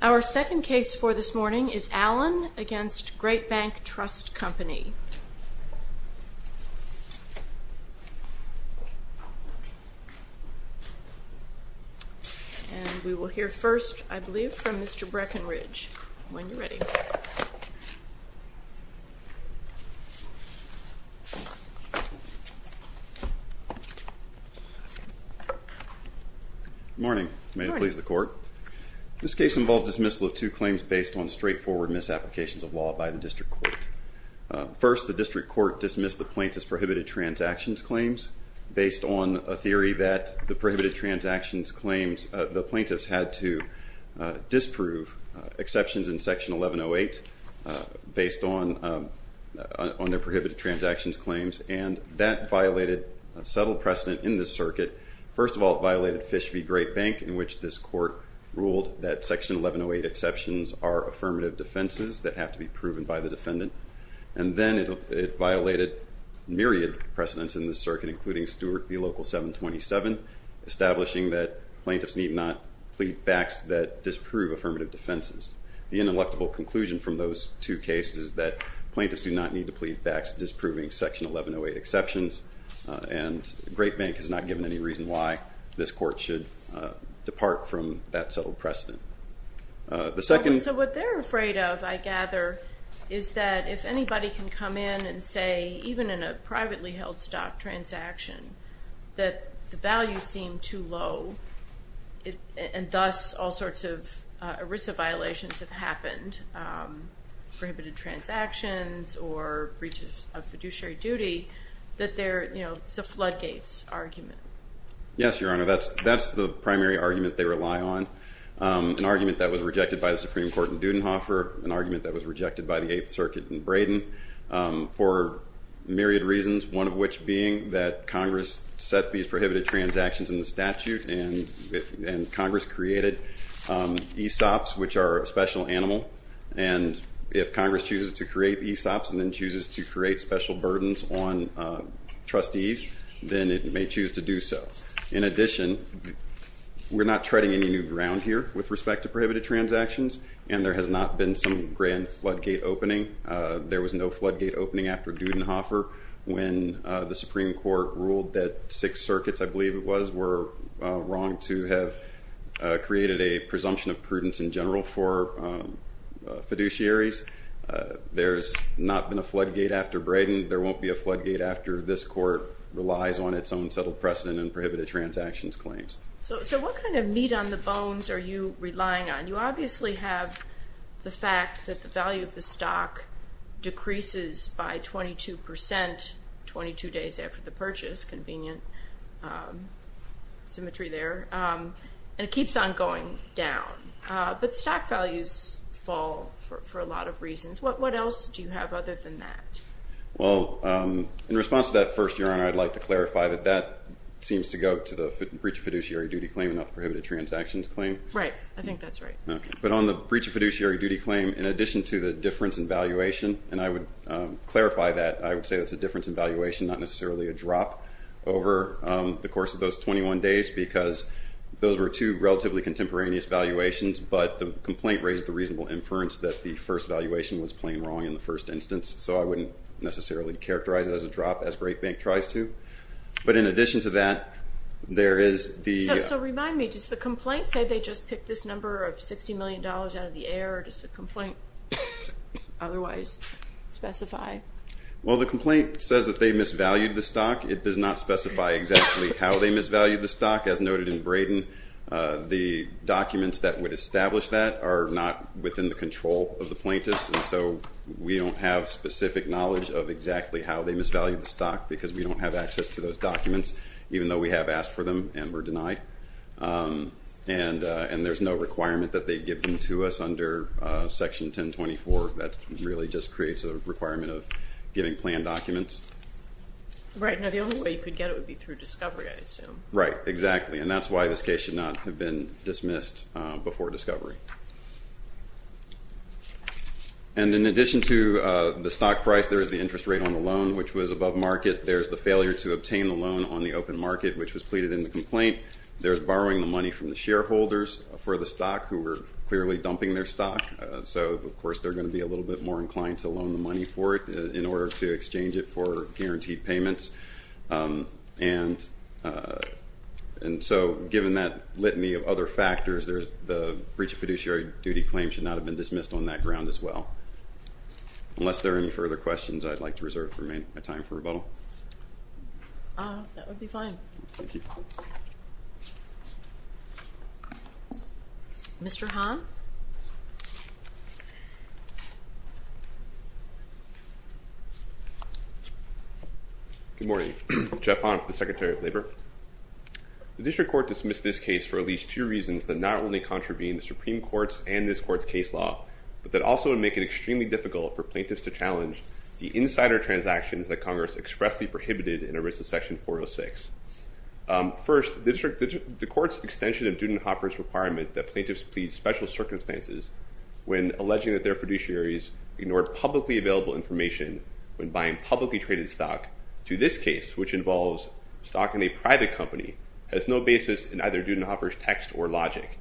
Our second case for this morning is Allen v. Greatbank Trust Company. And we will hear first, I believe, from Mr. Breckenridge. When you're ready. Good morning. May it please the court. This case involved dismissal of two claims based on straightforward misapplications of law by the district court. First, the district court dismissed the plaintiff's prohibited transactions claims based on a theory that the prohibited transactions claims, the plaintiffs had to disprove exceptions in Section 1108 based on their prohibited transactions claims. And that violated a subtle precedent in this circuit. First of all, it violated Fish v. Greatbank, in which this court ruled that Section 1108 exceptions are affirmative defenses that have to be proven by the defendant. And then it violated myriad precedents in this circuit, including Stewart v. Local 727, establishing that plaintiffs need not plead facts that disprove affirmative defenses. The ineluctable conclusion from those two cases is that plaintiffs do not need to plead facts disproving Section 1108 exceptions, and Greatbank has not given any reason why this court should depart from that subtle precedent. So what they're afraid of, I gather, is that if anybody can come in and say, even in a privately held stock transaction, that the values seem too low, and thus all sorts of ERISA violations have happened, prohibited transactions or breaches of fiduciary duty, that it's a floodgates argument. Yes, Your Honor. That's the primary argument they rely on, an argument that was rejected by the Supreme Court in Dudenhofer, an argument that was rejected by the Eighth Circuit in Braden, for myriad reasons, one of which being that Congress set these prohibited transactions in the statute, and Congress created ESOPs, which are a special animal. And if Congress chooses to create ESOPs and then chooses to create special burdens on trustees, then it may choose to do so. In addition, we're not treading any new ground here with respect to prohibited transactions, and there has not been some grand floodgate opening. There was no floodgate opening after Dudenhofer when the Supreme Court ruled that Sixth Circuit, I believe it was, were wrong to have created a presumption of prudence in general for fiduciaries. There's not been a floodgate after Braden. There won't be a floodgate after this Court relies on its own settled precedent and prohibited transactions claims. So what kind of meat on the bones are you relying on? You obviously have the fact that the value of the stock decreases by 22 percent 22 days after the purchase, convenient symmetry there, and it keeps on going down. What else do you have other than that? Well, in response to that first, Your Honor, I'd like to clarify that that seems to go to the breach of fiduciary duty claim and not the prohibited transactions claim. Right. I think that's right. But on the breach of fiduciary duty claim, in addition to the difference in valuation, and I would clarify that, I would say that's a difference in valuation, not necessarily a drop over the course of those 21 days because those were two relatively contemporaneous valuations, but the complaint raised the reasonable inference that the first valuation was plain wrong in the first instance, so I wouldn't necessarily characterize it as a drop as BreakBank tries to. But in addition to that, there is the… So remind me, does the complaint say they just picked this number of $60 million out of the air, or does the complaint otherwise specify? Well, the complaint says that they misvalued the stock. It does not specify exactly how they misvalued the stock. As noted in Braden, the documents that would establish that are not within the control of the plaintiffs, and so we don't have specific knowledge of exactly how they misvalued the stock because we don't have access to those documents, even though we have asked for them and were denied. And there's no requirement that they give them to us under Section 1024. That really just creates a requirement of giving planned documents. Right. Now, the only way you could get it would be through discovery, I assume. Right, exactly. And that's why this case should not have been dismissed before discovery. And in addition to the stock price, there is the interest rate on the loan, which was above market. There's the failure to obtain the loan on the open market, which was pleaded in the complaint. There's borrowing the money from the shareholders for the stock who were clearly dumping their stock. So, of course, they're going to be a little bit more inclined to loan the money for it in order to exchange it for guaranteed payments. And so, given that litany of other factors, the breach of fiduciary duty claim should not have been dismissed on that ground as well. Unless there are any further questions, I'd like to reserve the remaining time for rebuttal. That would be fine. Thank you. Mr. Hahn? Good morning. Jeff Hahn for the Secretary of Labor. The district court dismissed this case for at least two reasons that not only contravene the Supreme Court's and this court's case law, but that also would make it extremely difficult for plaintiffs to challenge the insider transactions that Congress expressly prohibited in Arisa Section 406. First, the court's extension of Dudenhoffer's requirement that plaintiffs plead special circumstances when alleging that their fiduciaries ignored publicly available information when buying publicly traded stock to this case, which involves stock in a private company, has no basis in either Dudenhoffer's text or logic.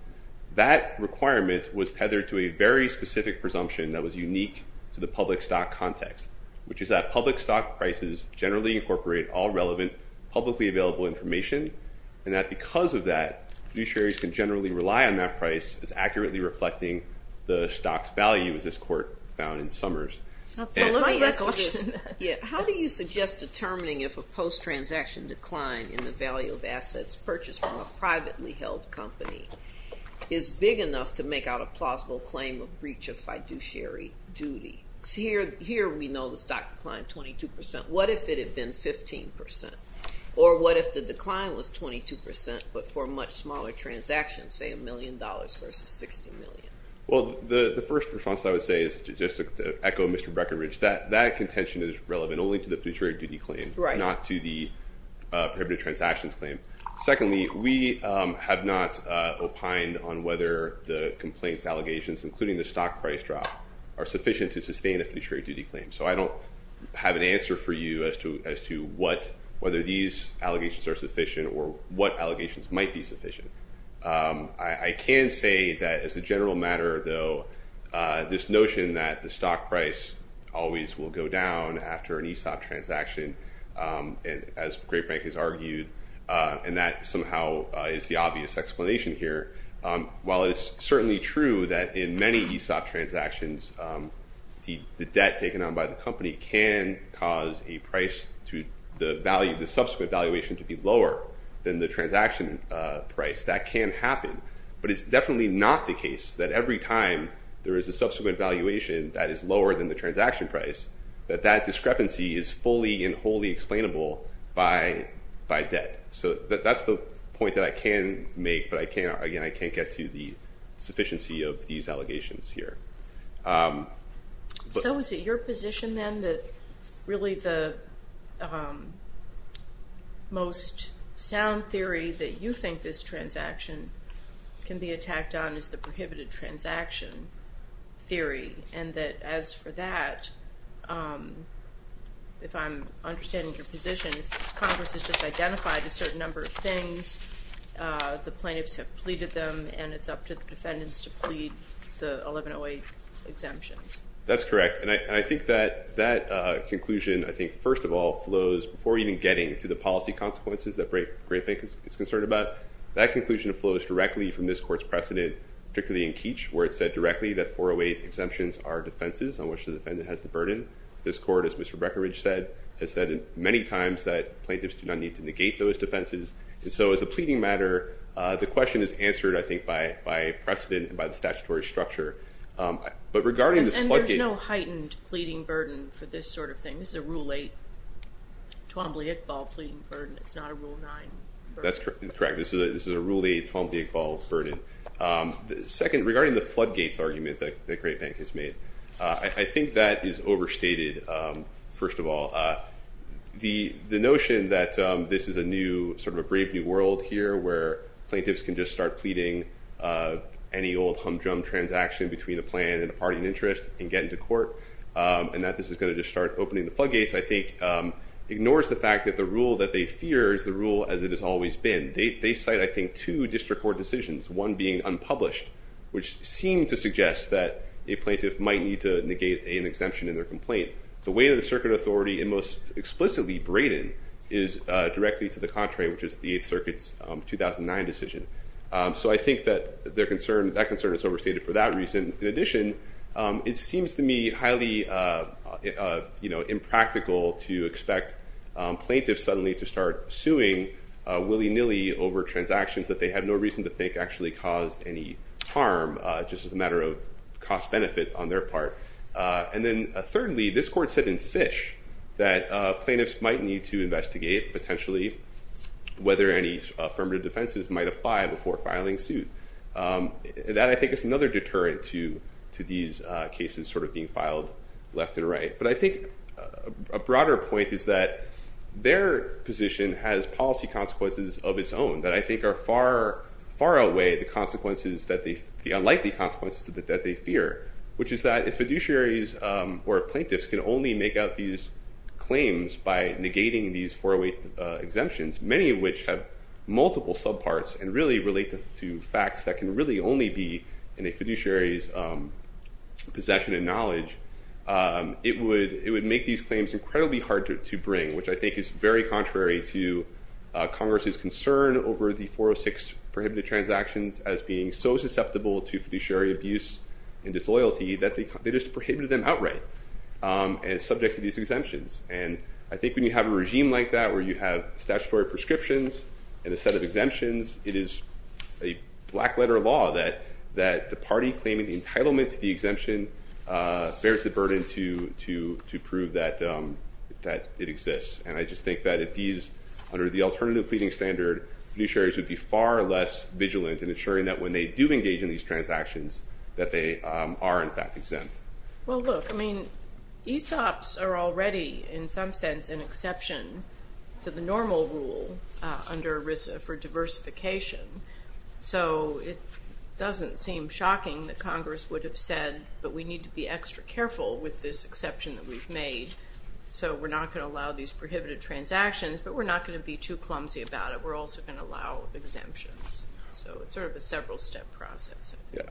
That requirement was tethered to a very specific presumption that was unique to the public stock context, which is that public stock prices generally incorporate all relevant publicly available information, and that because of that, fiduciaries can generally rely on that price as accurately reflecting the stock's value, as this court found in Summers. How do you suggest determining if a post-transaction decline in the value of assets purchased from a privately held company is big enough to make out a plausible claim of breach of fiduciary duty? Here we know the stock declined 22%. What if it had been 15%? Or what if the decline was 22% but for much smaller transactions, say $1 million versus $60 million? Well, the first response I would say is just to echo Mr. Breckinridge. That contention is relevant only to the fiduciary duty claim, not to the prohibited transactions claim. Secondly, we have not opined on whether the complaints allegations, including the stock price drop, are sufficient to sustain a fiduciary duty claim. So I don't have an answer for you as to whether these allegations are sufficient or what allegations might be sufficient. I can say that as a general matter, though, this notion that the stock price always will go down after an ESOP transaction, as Greg Frank has argued, and that somehow is the obvious explanation here. While it is certainly true that in many ESOP transactions, the debt taken on by the company can cause a price to the value, the subsequent valuation to be lower than the transaction price. That can happen. But it's definitely not the case that every time there is a subsequent valuation that is lower than the transaction price, that that discrepancy is fully and wholly explainable by debt. So that's the point that I can make, but again, I can't get to the sufficiency of these allegations here. So is it your position, then, that really the most sound theory that you think this transaction can be attacked on is the prohibited transaction theory, and that as for that, if I'm understanding your position, since Congress has just identified a certain number of things, the plaintiffs have pleaded them, and it's up to the defendants to plead the 1108 exemptions? That's correct. And I think that that conclusion, I think, first of all, flows, before even getting to the policy consequences that Greg Frank is concerned about, that conclusion flows directly from this court's precedent, particularly in Keech, where it said directly that 408 exemptions are defenses on which the defendant has the burden. This court, as Mr. Breckinridge said, has said many times that plaintiffs do not need to negate those defenses. And so as a pleading matter, the question is answered, I think, by precedent and by the statutory structure. But regarding this floodgate- And there's no heightened pleading burden for this sort of thing. This is a Rule 8, Twombly-Iqbal pleading burden. It's not a Rule 9 burden. That's correct. This is a Rule 8, Twombly-Iqbal burden. Second, regarding the floodgates argument that Greg Frank has made, I think that is overstated, first of all. The notion that this is a new, sort of a brave new world here, where plaintiffs can just start pleading any old hum-drum transaction between a plan and a party in interest and get into court, and that this is going to just start opening the floodgates, I think, has always been. They cite, I think, two district court decisions, one being unpublished, which seem to suggest that a plaintiff might need to negate an exemption in their complaint. The weight of the circuit authority, and most explicitly Braden, is directly to the contrary, which is the Eighth Circuit's 2009 decision. So I think that that concern is overstated for that reason. In addition, it seems to me highly impractical to expect plaintiffs, suddenly, to start suing willy-nilly over transactions that they have no reason to think actually caused any harm, just as a matter of cost-benefit on their part. And then thirdly, this court said in Fish that plaintiffs might need to investigate, potentially, whether any affirmative defenses might apply before filing suit. That, I think, is another deterrent to these cases sort of being filed left and right. But I think a broader point is that their position has policy consequences of its own that I think are far, far away the consequences, the unlikely consequences that they fear, which is that if fiduciaries or plaintiffs can only make out these claims by negating these 408 exemptions, many of which have multiple subparts and really relate to facts that can really only be in a fiduciary's possession and knowledge, it would make these claims incredibly hard to bring, which I think is very contrary to Congress's concern over the 406 prohibited transactions as being so susceptible to fiduciary abuse and disloyalty that they just prohibited them outright and subject to these exemptions. And I think when you have a regime like that where you have statutory prescriptions and a set of exemptions, it is a black-letter law that the party claiming the entitlement to the exemption bears the burden to prove that it exists. And I just think that if these, under the alternative pleading standard, fiduciaries would be far less vigilant in ensuring that when they do engage in these transactions that they are, in fact, exempt. Well, look, I mean, ESOPs are already, in some sense, an exception to the normal rule under ERISA for diversification. So it doesn't seem shocking that Congress would have said, but we need to be extra careful with this exception that we've made. So we're not going to allow these prohibited transactions, but we're not going to be too clumsy about it. We're also going to allow exemptions. So it's sort of a several-step process. But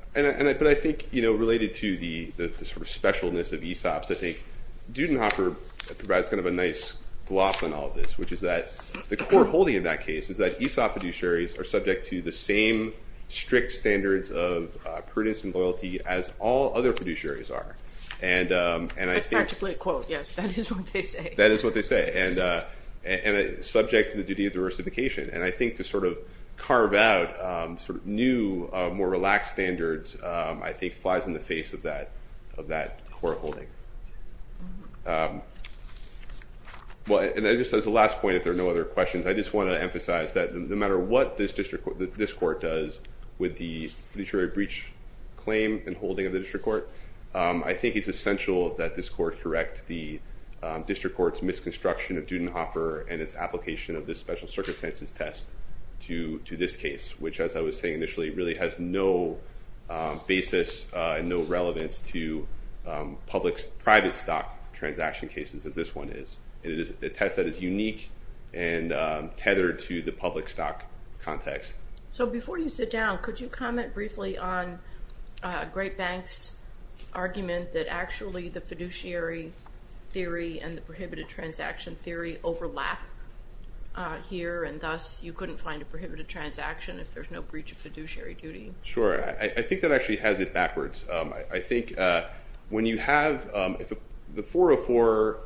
I think related to the sort of specialness of ESOPs, I think Dudenhofer provides kind of a nice gloss on all of this, which is that the core holding in that case is that ESOP fiduciaries are subject to the same strict standards of prudence and loyalty as all other fiduciaries are. That's Patrick Blake's quote, yes. That is what they say. That is what they say, and subject to the duty of diversification. And I think to sort of carve out sort of new, more relaxed standards I think flies in the face of that core holding. And just as a last point, if there are no other questions, I just want to emphasize that no matter what this court does with the fiduciary breach claim and holding of the district court, I think it's essential that this court correct the district court's misconstruction of Dudenhofer and its application of this special circumstances test to this case, which, as I was saying initially, really has no basis and no relevance to public private stock transaction cases as this one is. It is a test that is unique and tethered to the public stock context. So before you sit down, could you comment briefly on Great Bank's argument that actually the fiduciary theory and the prohibited transaction theory overlap here, and thus you couldn't find a prohibited transaction if there's no breach of fiduciary duty? Sure. I think that actually has it backwards. I think when you have the 404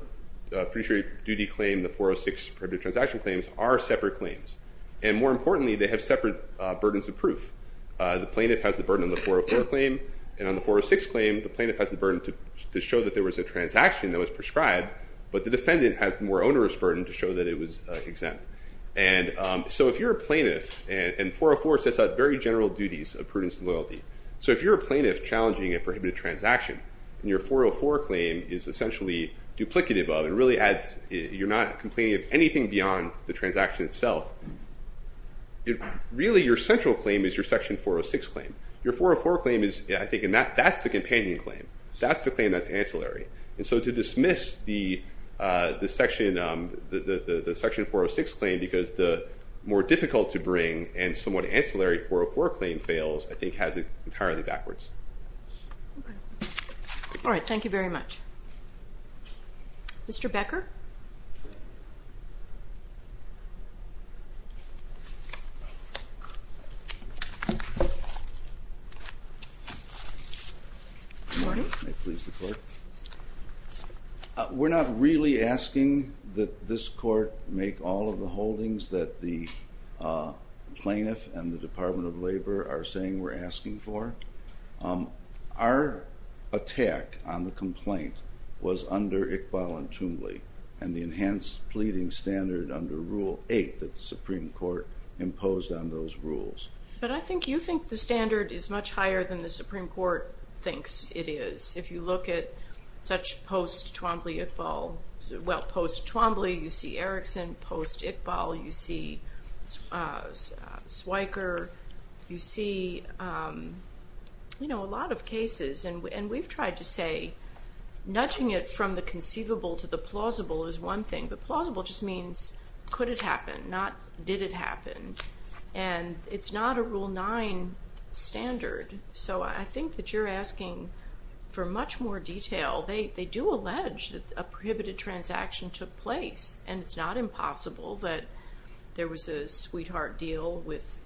fiduciary duty claim, the 406 prohibited transaction claims are separate claims. And more importantly, they have separate burdens of proof. The plaintiff has the burden on the 404 claim, and on the 406 claim, the plaintiff has the burden to show that there was a transaction that was prescribed, but the defendant has the more onerous burden to show that it was exempt. And so if you're a plaintiff, and 404 sets out very general duties of prudence and loyalty. So if you're a plaintiff challenging a prohibited transaction, and your 404 claim is essentially duplicative of and really adds, you're not complaining of anything beyond the transaction itself, really your central claim is your section 406 claim. Your 404 claim is, I think, and that's the companion claim. That's the claim that's ancillary. And so to dismiss the section 406 claim because the more difficult to bring and somewhat ancillary 404 claim fails I think has it entirely backwards. All right. Thank you very much. Mr. Becker? Good morning. May it please the Court. We're not really asking that this Court make all of the holdings that the plaintiff and the Department of Labor are saying we're asking for. Our attack on the complaint was under Iqbal and Tumley, and the enhanced pleading standard under Rule 8 that the Supreme Court imposed on those rules. But I think you think the standard is much higher than the Supreme Court thinks it is. If you look at such post-Tumley-Iqbal, well, post-Tumley you see Erickson, post-Iqbal you see Swiker, you see a lot of cases. And we've tried to say nudging it from the conceivable to the plausible is one thing. The plausible just means could it happen, not did it happen. And it's not a Rule 9 standard. So I think that you're asking for much more detail. They do allege that a prohibited transaction took place, and it's not impossible that there was a sweetheart deal with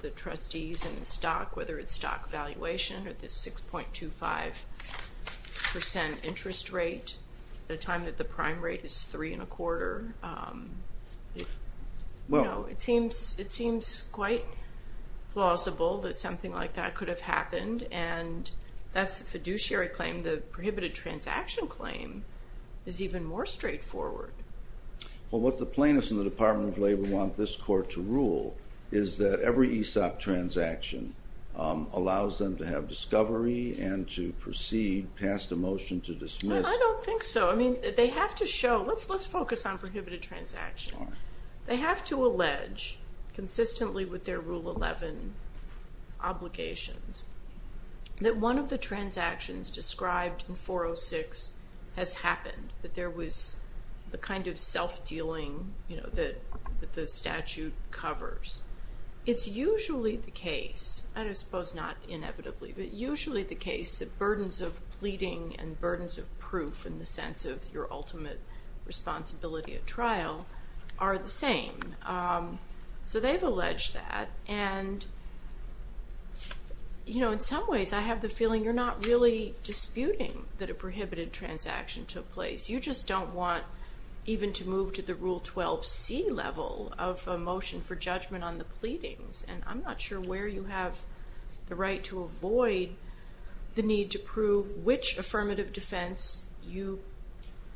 the trustees and the stock, whether it's stock valuation or the 6.25% interest rate at a time that the prime rate is 3.25%. It seems quite plausible that something like that could have happened, and that's a fiduciary claim. The prohibited transaction claim is even more straightforward. Well, what the plaintiffs in the Department of Labor want this Court to rule is that every ESOP transaction allows them to have discovery and to proceed past a motion to dismiss. I don't think so. Let's focus on prohibited transactions. They have to allege consistently with their Rule 11 obligations that one of the transactions described in 406 has happened, that there was the kind of self-dealing that the statute covers. It's usually the case, and I suppose not inevitably, but usually the case that burdens of pleading and burdens of proof in the sense of your ultimate responsibility at trial are the same. So they've alleged that, and in some ways I have the feeling you're not really disputing that a prohibited transaction took place. You just don't want even to move to the Rule 12c level of a motion for judgment on the pleadings, and I'm not sure where you have the right to avoid the need to prove which affirmative defense,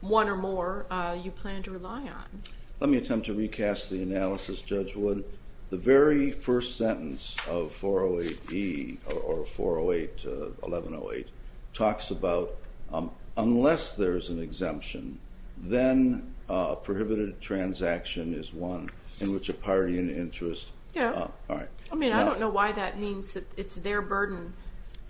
one or more, you plan to rely on. Let me attempt to recast the analysis, Judge Wood. The very first sentence of 408e, or 408, 1108, talks about unless there's an exemption, then a prohibited transaction is one in which a party in interest... Yeah. All right. I mean, I don't know why that means that it's their burden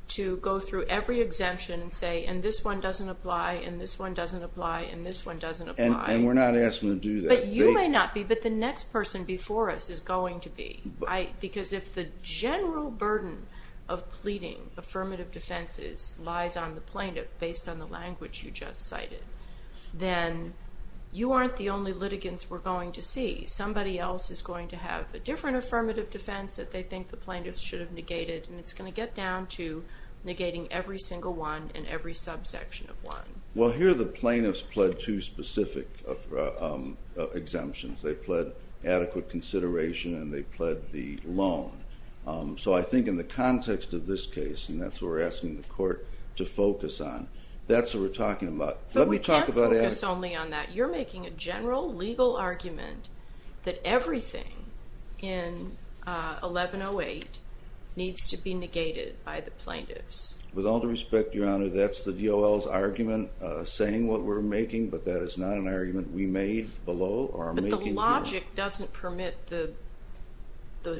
to go through every exemption and say, and this one doesn't apply, and this one doesn't apply, and this one doesn't apply. And we're not asking them to do that. But you may not be, but the next person before us is going to be. Because if the general burden of pleading affirmative defenses lies on the plaintiff based on the language you just cited, then you aren't the only litigants we're going to see. Somebody else is going to have a different affirmative defense that they think the plaintiff should have negated, and it's going to get down to negating every single one and every subsection of one. Well, here the plaintiffs pled two specific exemptions. They pled adequate consideration and they pled the loan. So I think in the context of this case, and that's what we're asking the court to focus on, that's what we're talking about. But we can't focus only on that. You're making a general legal argument that everything in 1108 needs to be negated by the plaintiffs. With all due respect, Your Honor, that's the DOL's argument saying what we're making, but that is not an argument we made below or are making now. The logic doesn't permit the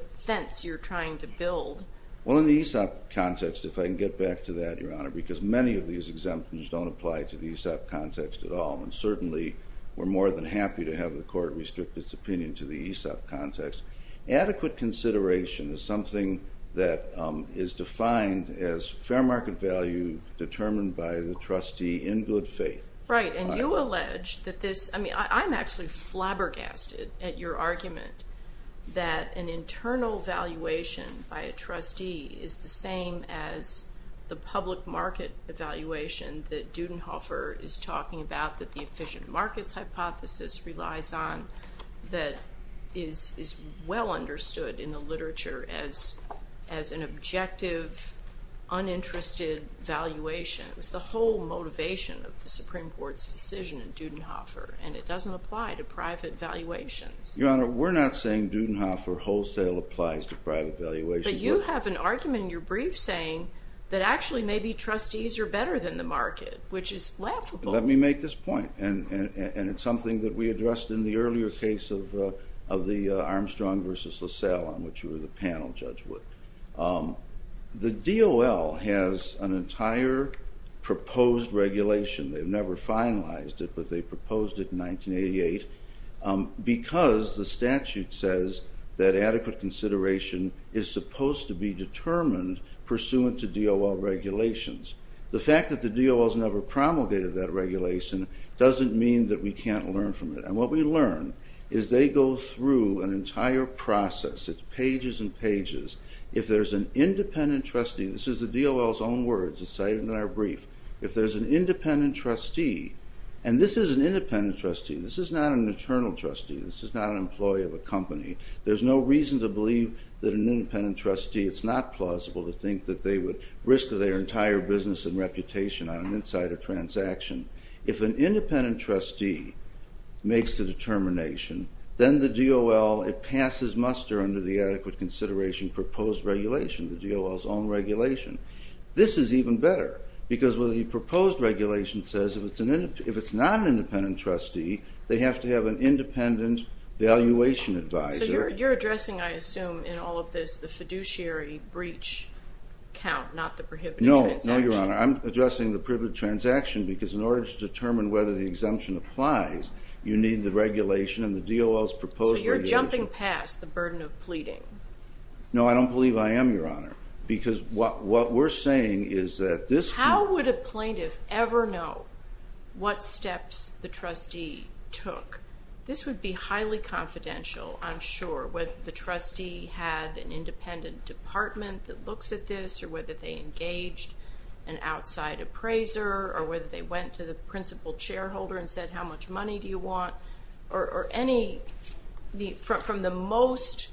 fence you're trying to build. Well, in the ESOP context, if I can get back to that, Your Honor, because many of these exemptions don't apply to the ESOP context at all, and certainly we're more than happy to have the court restrict its opinion to the ESOP context, adequate consideration is something that is defined as fair market value determined by the trustee in good faith. Right, and you allege that this, I mean, I'm actually flabbergasted at your argument that an internal valuation by a trustee is the same as the public market evaluation that Dudenhofer is talking about that the efficient markets hypothesis relies on that is well understood in the literature as an objective, uninterested valuation. It was the whole motivation of the Supreme Court's decision in Dudenhofer, and it doesn't apply to private valuations. Your Honor, we're not saying Dudenhofer wholesale applies to private valuations. But you have an argument in your brief saying that actually maybe trustees are better than the market, which is laughable. Let me make this point, and it's something that we addressed in the earlier case of the Armstrong v. LaSalle on which you were the panel, Judge Wood. The DOL has an entire proposed regulation. They've never finalized it, but they proposed it in 1988 because the statute says that adequate consideration is supposed to be determined pursuant to DOL regulations. The fact that the DOL has never promulgated that regulation doesn't mean that we can't learn from it. And what we learn is they go through an entire process. It's pages and pages. If there's an independent trustee, this is the DOL's own words. It's cited in our brief. If there's an independent trustee, and this is an independent trustee. This is not an internal trustee. This is not an employee of a company. There's no reason to believe that an independent trustee. It's not plausible to think that they would risk their entire business and reputation on an insider transaction. If an independent trustee makes the determination, then the DOL, it passes muster under the adequate consideration proposed regulation, the DOL's own regulation. This is even better because the proposed regulation says if it's not an independent trustee, they have to have an independent valuation advisor. So you're addressing, I assume, in all of this the fiduciary breach count, not the prohibited transaction. No, no, Your Honor. I'm addressing the privileged transaction because in order to determine whether the exemption applies, you need the regulation and the DOL's proposed regulation. So you're jumping past the burden of pleading. No, I don't believe I am, Your Honor, because what we're saying is that this. How would a plaintiff ever know what steps the trustee took? This would be highly confidential, I'm sure, whether the trustee had an independent department that looks at this or whether they engaged an outside appraiser or whether they went to the principal shareholder and said how much money do you want or any from the most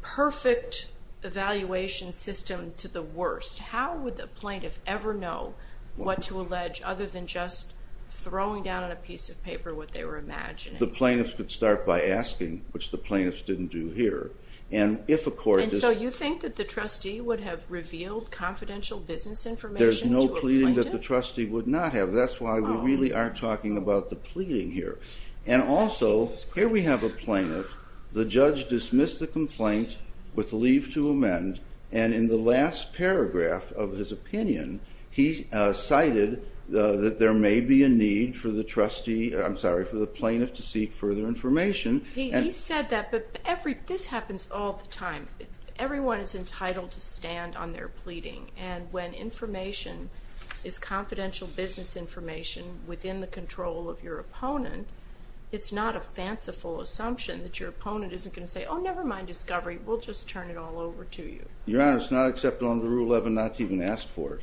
perfect evaluation system to the worst. How would the plaintiff ever know what to allege other than just throwing down on a piece of paper what they were imagining? The plaintiffs could start by asking, which the plaintiffs didn't do here. And so you think that the trustee would have revealed confidential business information to a plaintiff? There's no pleading that the trustee would not have. That's why we really aren't talking about the pleading here. And also, here we have a plaintiff. The judge dismissed the complaint with leave to amend, and in the last paragraph of his opinion, he cited that there may be a need for the plaintiff to seek further information. He said that, but this happens all the time. Everyone is entitled to stand on their pleading, and when information is confidential business information within the control of your opponent, it's not a fanciful assumption that your opponent isn't going to say, oh, never mind discovery. We'll just turn it all over to you. Your Honor, it's not acceptable under Rule 11 not to even ask for it.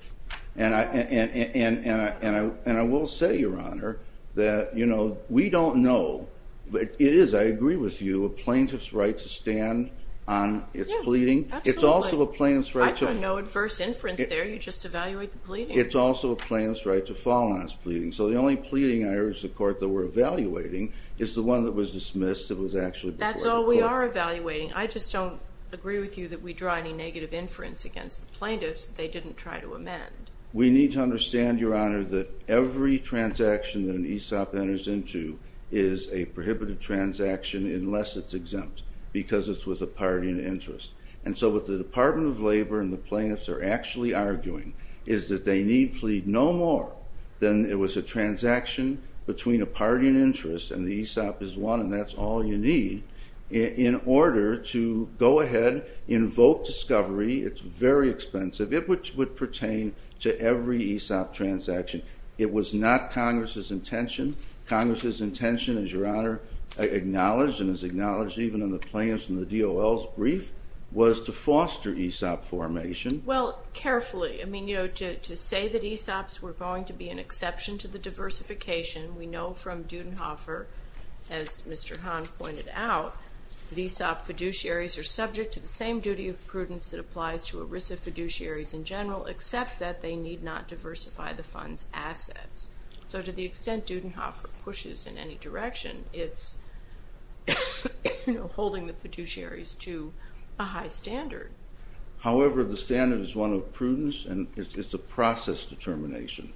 And I will say, Your Honor, that we don't know. It is, I agree with you, a plaintiff's right to stand on its pleading. Yeah, absolutely. It's also a plaintiff's right to- I put no adverse inference there. You just evaluate the pleading. It's also a plaintiff's right to fall on its pleading. So the only pleading, I urge the Court, that we're evaluating is the one that was dismissed that was actually before the Court. That's all we are evaluating. I just don't agree with you that we draw any negative inference against the plaintiffs that they didn't try to amend. We need to understand, Your Honor, that every transaction that an ESOP enters into is a prohibited transaction unless it's exempt because it's with a party in interest. And so what the Department of Labor and the plaintiffs are actually arguing is that they need plead no more than it was a transaction between a party in interest, and the ESOP is one, and that's all you need, in order to go ahead, invoke discovery. It's very expensive. It would pertain to every ESOP transaction. It was not Congress's intention. Congress's intention, as Your Honor acknowledged and has acknowledged even in the plaintiffs' and the DOL's brief, was to foster ESOP formation. Well, carefully, I mean, you know, to say that ESOPs were going to be an exception to the diversification, we know from Dudenhofer, as Mr. Hahn pointed out, that ESOP fiduciaries are subject to the same duty of prudence that applies to ERISA fiduciaries in general, except that they need not diversify the fund's assets. So to the extent Dudenhofer pushes in any direction, it's holding the fiduciaries to a high standard. However, the standard is one of prudence, and it's a process determination.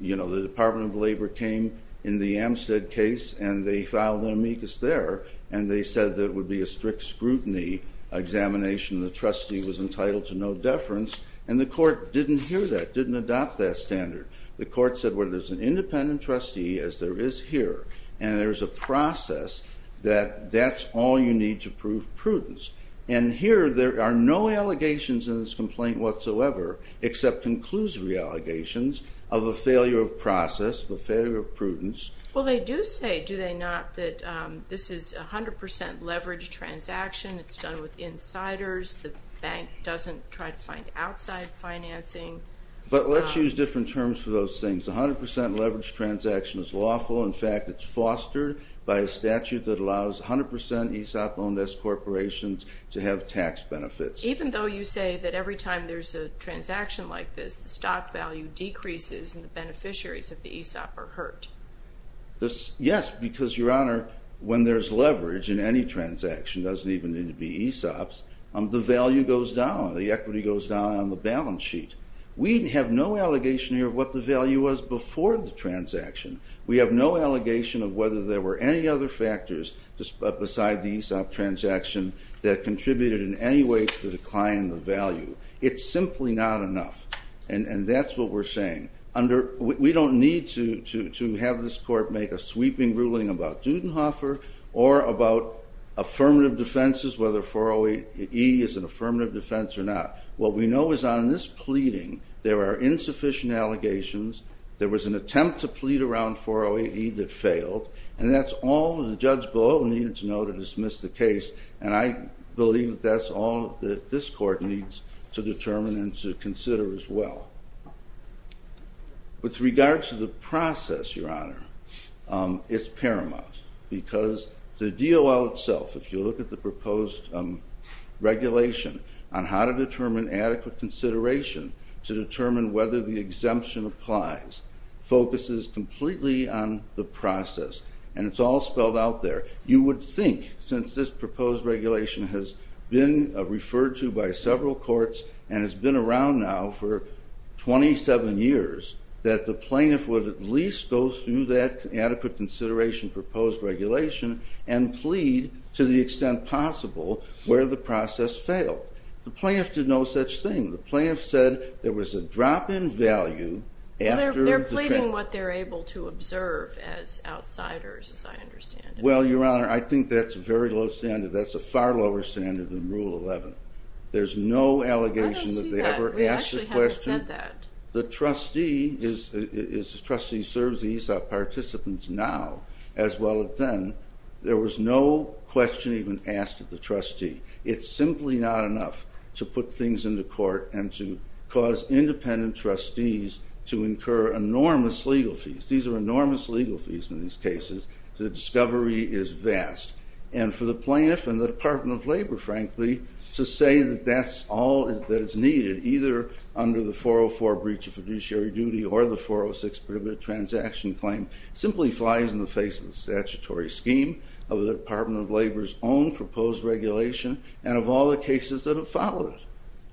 You know, the Department of Labor came in the Amstead case, and they filed an amicus there, and they said that it would be a strict scrutiny examination. The trustee was entitled to no deference, and the court didn't hear that, didn't adopt that standard. The court said, well, there's an independent trustee, as there is here, and there's a process that that's all you need to prove prudence. And here, there are no allegations in this complaint whatsoever, except conclusive allegations of a failure of process, of a failure of prudence. Well, they do say, do they not, that this is a 100% leveraged transaction. It's done with insiders. The bank doesn't try to find outside financing. But let's use different terms for those things. A 100% leveraged transaction is lawful. In fact, it's fostered by a statute that allows 100% ESOP-owned S corporations to have tax benefits. Even though you say that every time there's a transaction like this, the stock value decreases and the beneficiaries of the ESOP are hurt? Yes, because, Your Honor, when there's leverage in any transaction, it doesn't even need to be ESOPs, the value goes down, the equity goes down on the balance sheet. We have no allegation here of what the value was before the transaction. We have no allegation of whether there were any other factors beside the ESOP transaction that contributed in any way to the decline of value. It's simply not enough. And that's what we're saying. We don't need to have this court make a sweeping ruling about Dudenhofer or about affirmative defenses, whether 408E is an affirmative defense or not. What we know is on this pleading, there are insufficient allegations. There was an attempt to plead around 408E that failed, and that's all the judge below needed to know to dismiss the case, and I believe that's all that this court needs to determine and to consider as well. With regard to the process, Your Honor, it's paramount, because the DOL itself, if you look at the proposed regulation on how to determine adequate consideration to determine whether the exemption applies, focuses completely on the process, and it's all spelled out there. You would think, since this proposed regulation has been referred to by several courts and has been around now for 27 years, that the plaintiff would at least go through that adequate consideration proposed regulation and plead to the extent possible where the process failed. The plaintiff did no such thing. The plaintiff said there was a drop in value after the trial. They're pleading what they're able to observe as outsiders, as I understand it. Well, Your Honor, I think that's a very low standard. That's a far lower standard than Rule 11. There's no allegation that they ever asked the question. I don't see that. We actually haven't said that. The trustee is a trustee who serves the ESOP participants now as well as then. There was no question even asked of the trustee. It's simply not enough to put things into court and to cause independent trustees to incur enormous legal fees. These are enormous legal fees in these cases. The discovery is vast. And for the plaintiff and the Department of Labor, frankly, to say that that's all that is needed either under the 404 breach of fiduciary duty or the 406 prohibitive transaction claim simply flies in the face of the statutory scheme of the Department of Labor's own proposed regulation and of all the cases that have followed it.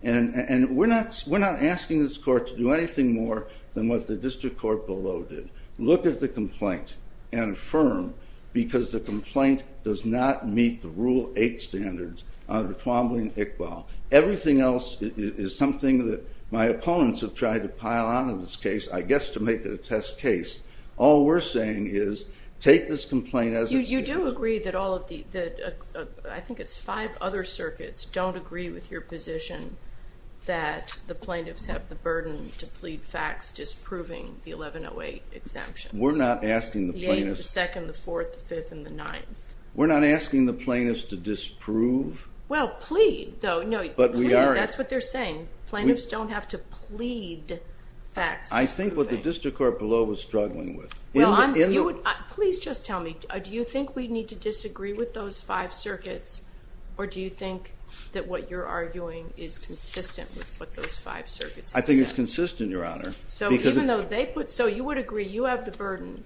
And we're not asking this court to do anything more than what the district court below did. Look at the complaint and affirm because the complaint does not meet the Rule 8 standards under Twombly and Iqbal. Everything else is something that my opponents have tried to pile on in this case, I guess to make it a test case. All we're saying is take this complaint as it stands. You do agree that all of the, I think it's five other circuits, don't agree with your position that the plaintiffs have the burden to plead facts disproving the 1108 exemptions. We're not asking the plaintiffs. The 8th, the 2nd, the 4th, the 5th, and the 9th. We're not asking the plaintiffs to disprove. Well, plead, though. That's what they're saying. Plaintiffs don't have to plead facts disproving. I think what the district court below was struggling with. Please just tell me, do you think we need to disagree with those five circuits or do you think that what you're arguing is consistent with what those five circuits have said? I think it's consistent, Your Honor. So you would agree you have the burden,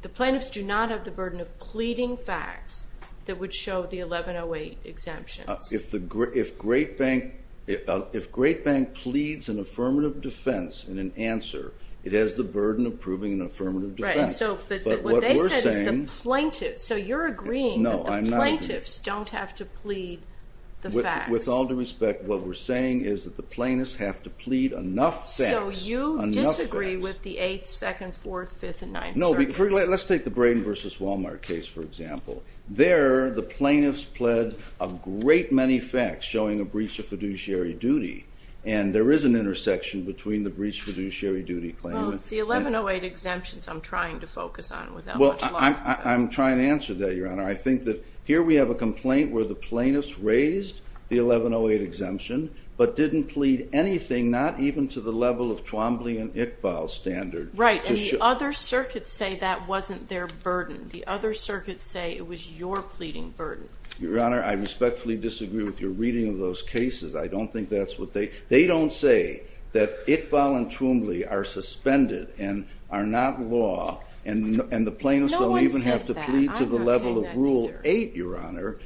the plaintiffs do not have the burden of pleading facts that would show the 1108 exemptions. If Great Bank pleads an affirmative defense in an answer, it has the burden of proving an affirmative defense. But what they said is the plaintiffs. So you're agreeing that the plaintiffs don't have to plead the facts. With all due respect, what we're saying is that the plaintiffs have to plead enough facts. So you disagree with the 8th, 2nd, 4th, 5th, and 9th circuits. No, let's take the Braden v. Walmart case, for example. There, the plaintiffs pled a great many facts showing a breach of fiduciary duty, and there is an intersection between the breach of fiduciary duty claim. Well, it's the 1108 exemptions I'm trying to focus on without much longer. Well, I'm trying to answer that, Your Honor. I think that here we have a complaint where the plaintiffs raised the 1108 exemption but didn't plead anything, not even to the level of Twombly and Iqbal's standard. Right, and the other circuits say that wasn't their burden. The other circuits say it was your pleading burden. Your Honor, I respectfully disagree with your reading of those cases. They don't say that Iqbal and Twombly are suspended and are not law, and the plaintiffs don't even have to plead to the level of Rule 8, Your Honor,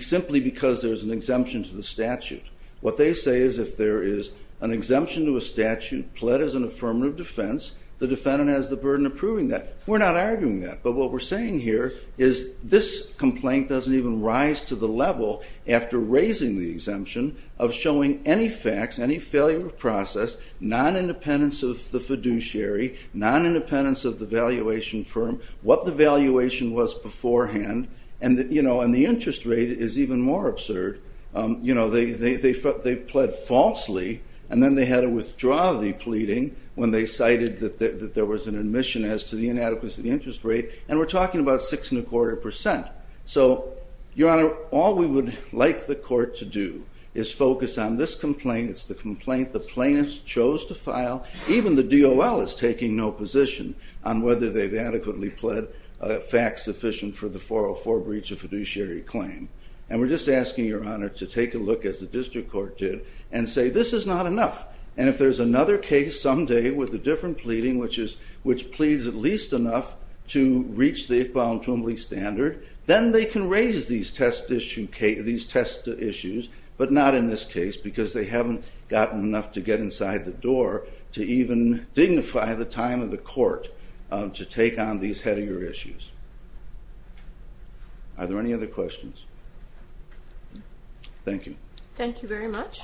simply because there's an exemption to the statute. What they say is if there is an exemption to a statute pled as an affirmative defense, the defendant has the burden of proving that. We're not arguing that, but what we're saying here is this complaint doesn't even rise to the level after raising the exemption of showing any facts, any failure of process, non-independence of the fiduciary, non-independence of the valuation firm, what the valuation was beforehand, and the interest rate is even more absurd. They pled falsely, and then they had to withdraw the pleading when they cited that there was an admission as to the inadequacy of the interest rate, and we're talking about 6.25%. So, Your Honor, all we would like the court to do is focus on this complaint. It's the complaint the plaintiffs chose to file. Even the DOL is taking no position on whether they've adequately pled facts sufficient for the 404 breach of fiduciary claim, and we're just asking, Your Honor, to take a look, as the district court did, and say this is not enough, and if there's another case someday with a different pleading which pleads at least enough to reach the Iqbal and Twombly standard, then they can raise these test issues, but not in this case, because they haven't gotten enough to get inside the door to even dignify the time of the court to take on these headier issues. Are there any other questions? Thank you. Thank you very much.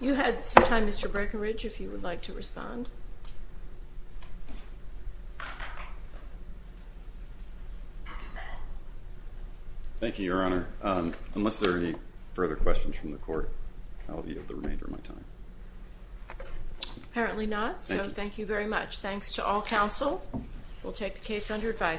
You had some time, Mr. Breckenridge, if you would like to respond. Thank you, Your Honor. Unless there are any further questions from the court, I'll be of the remainder of my time. Apparently not, so thank you very much. Thanks to all counsel. We'll take the case under advisory.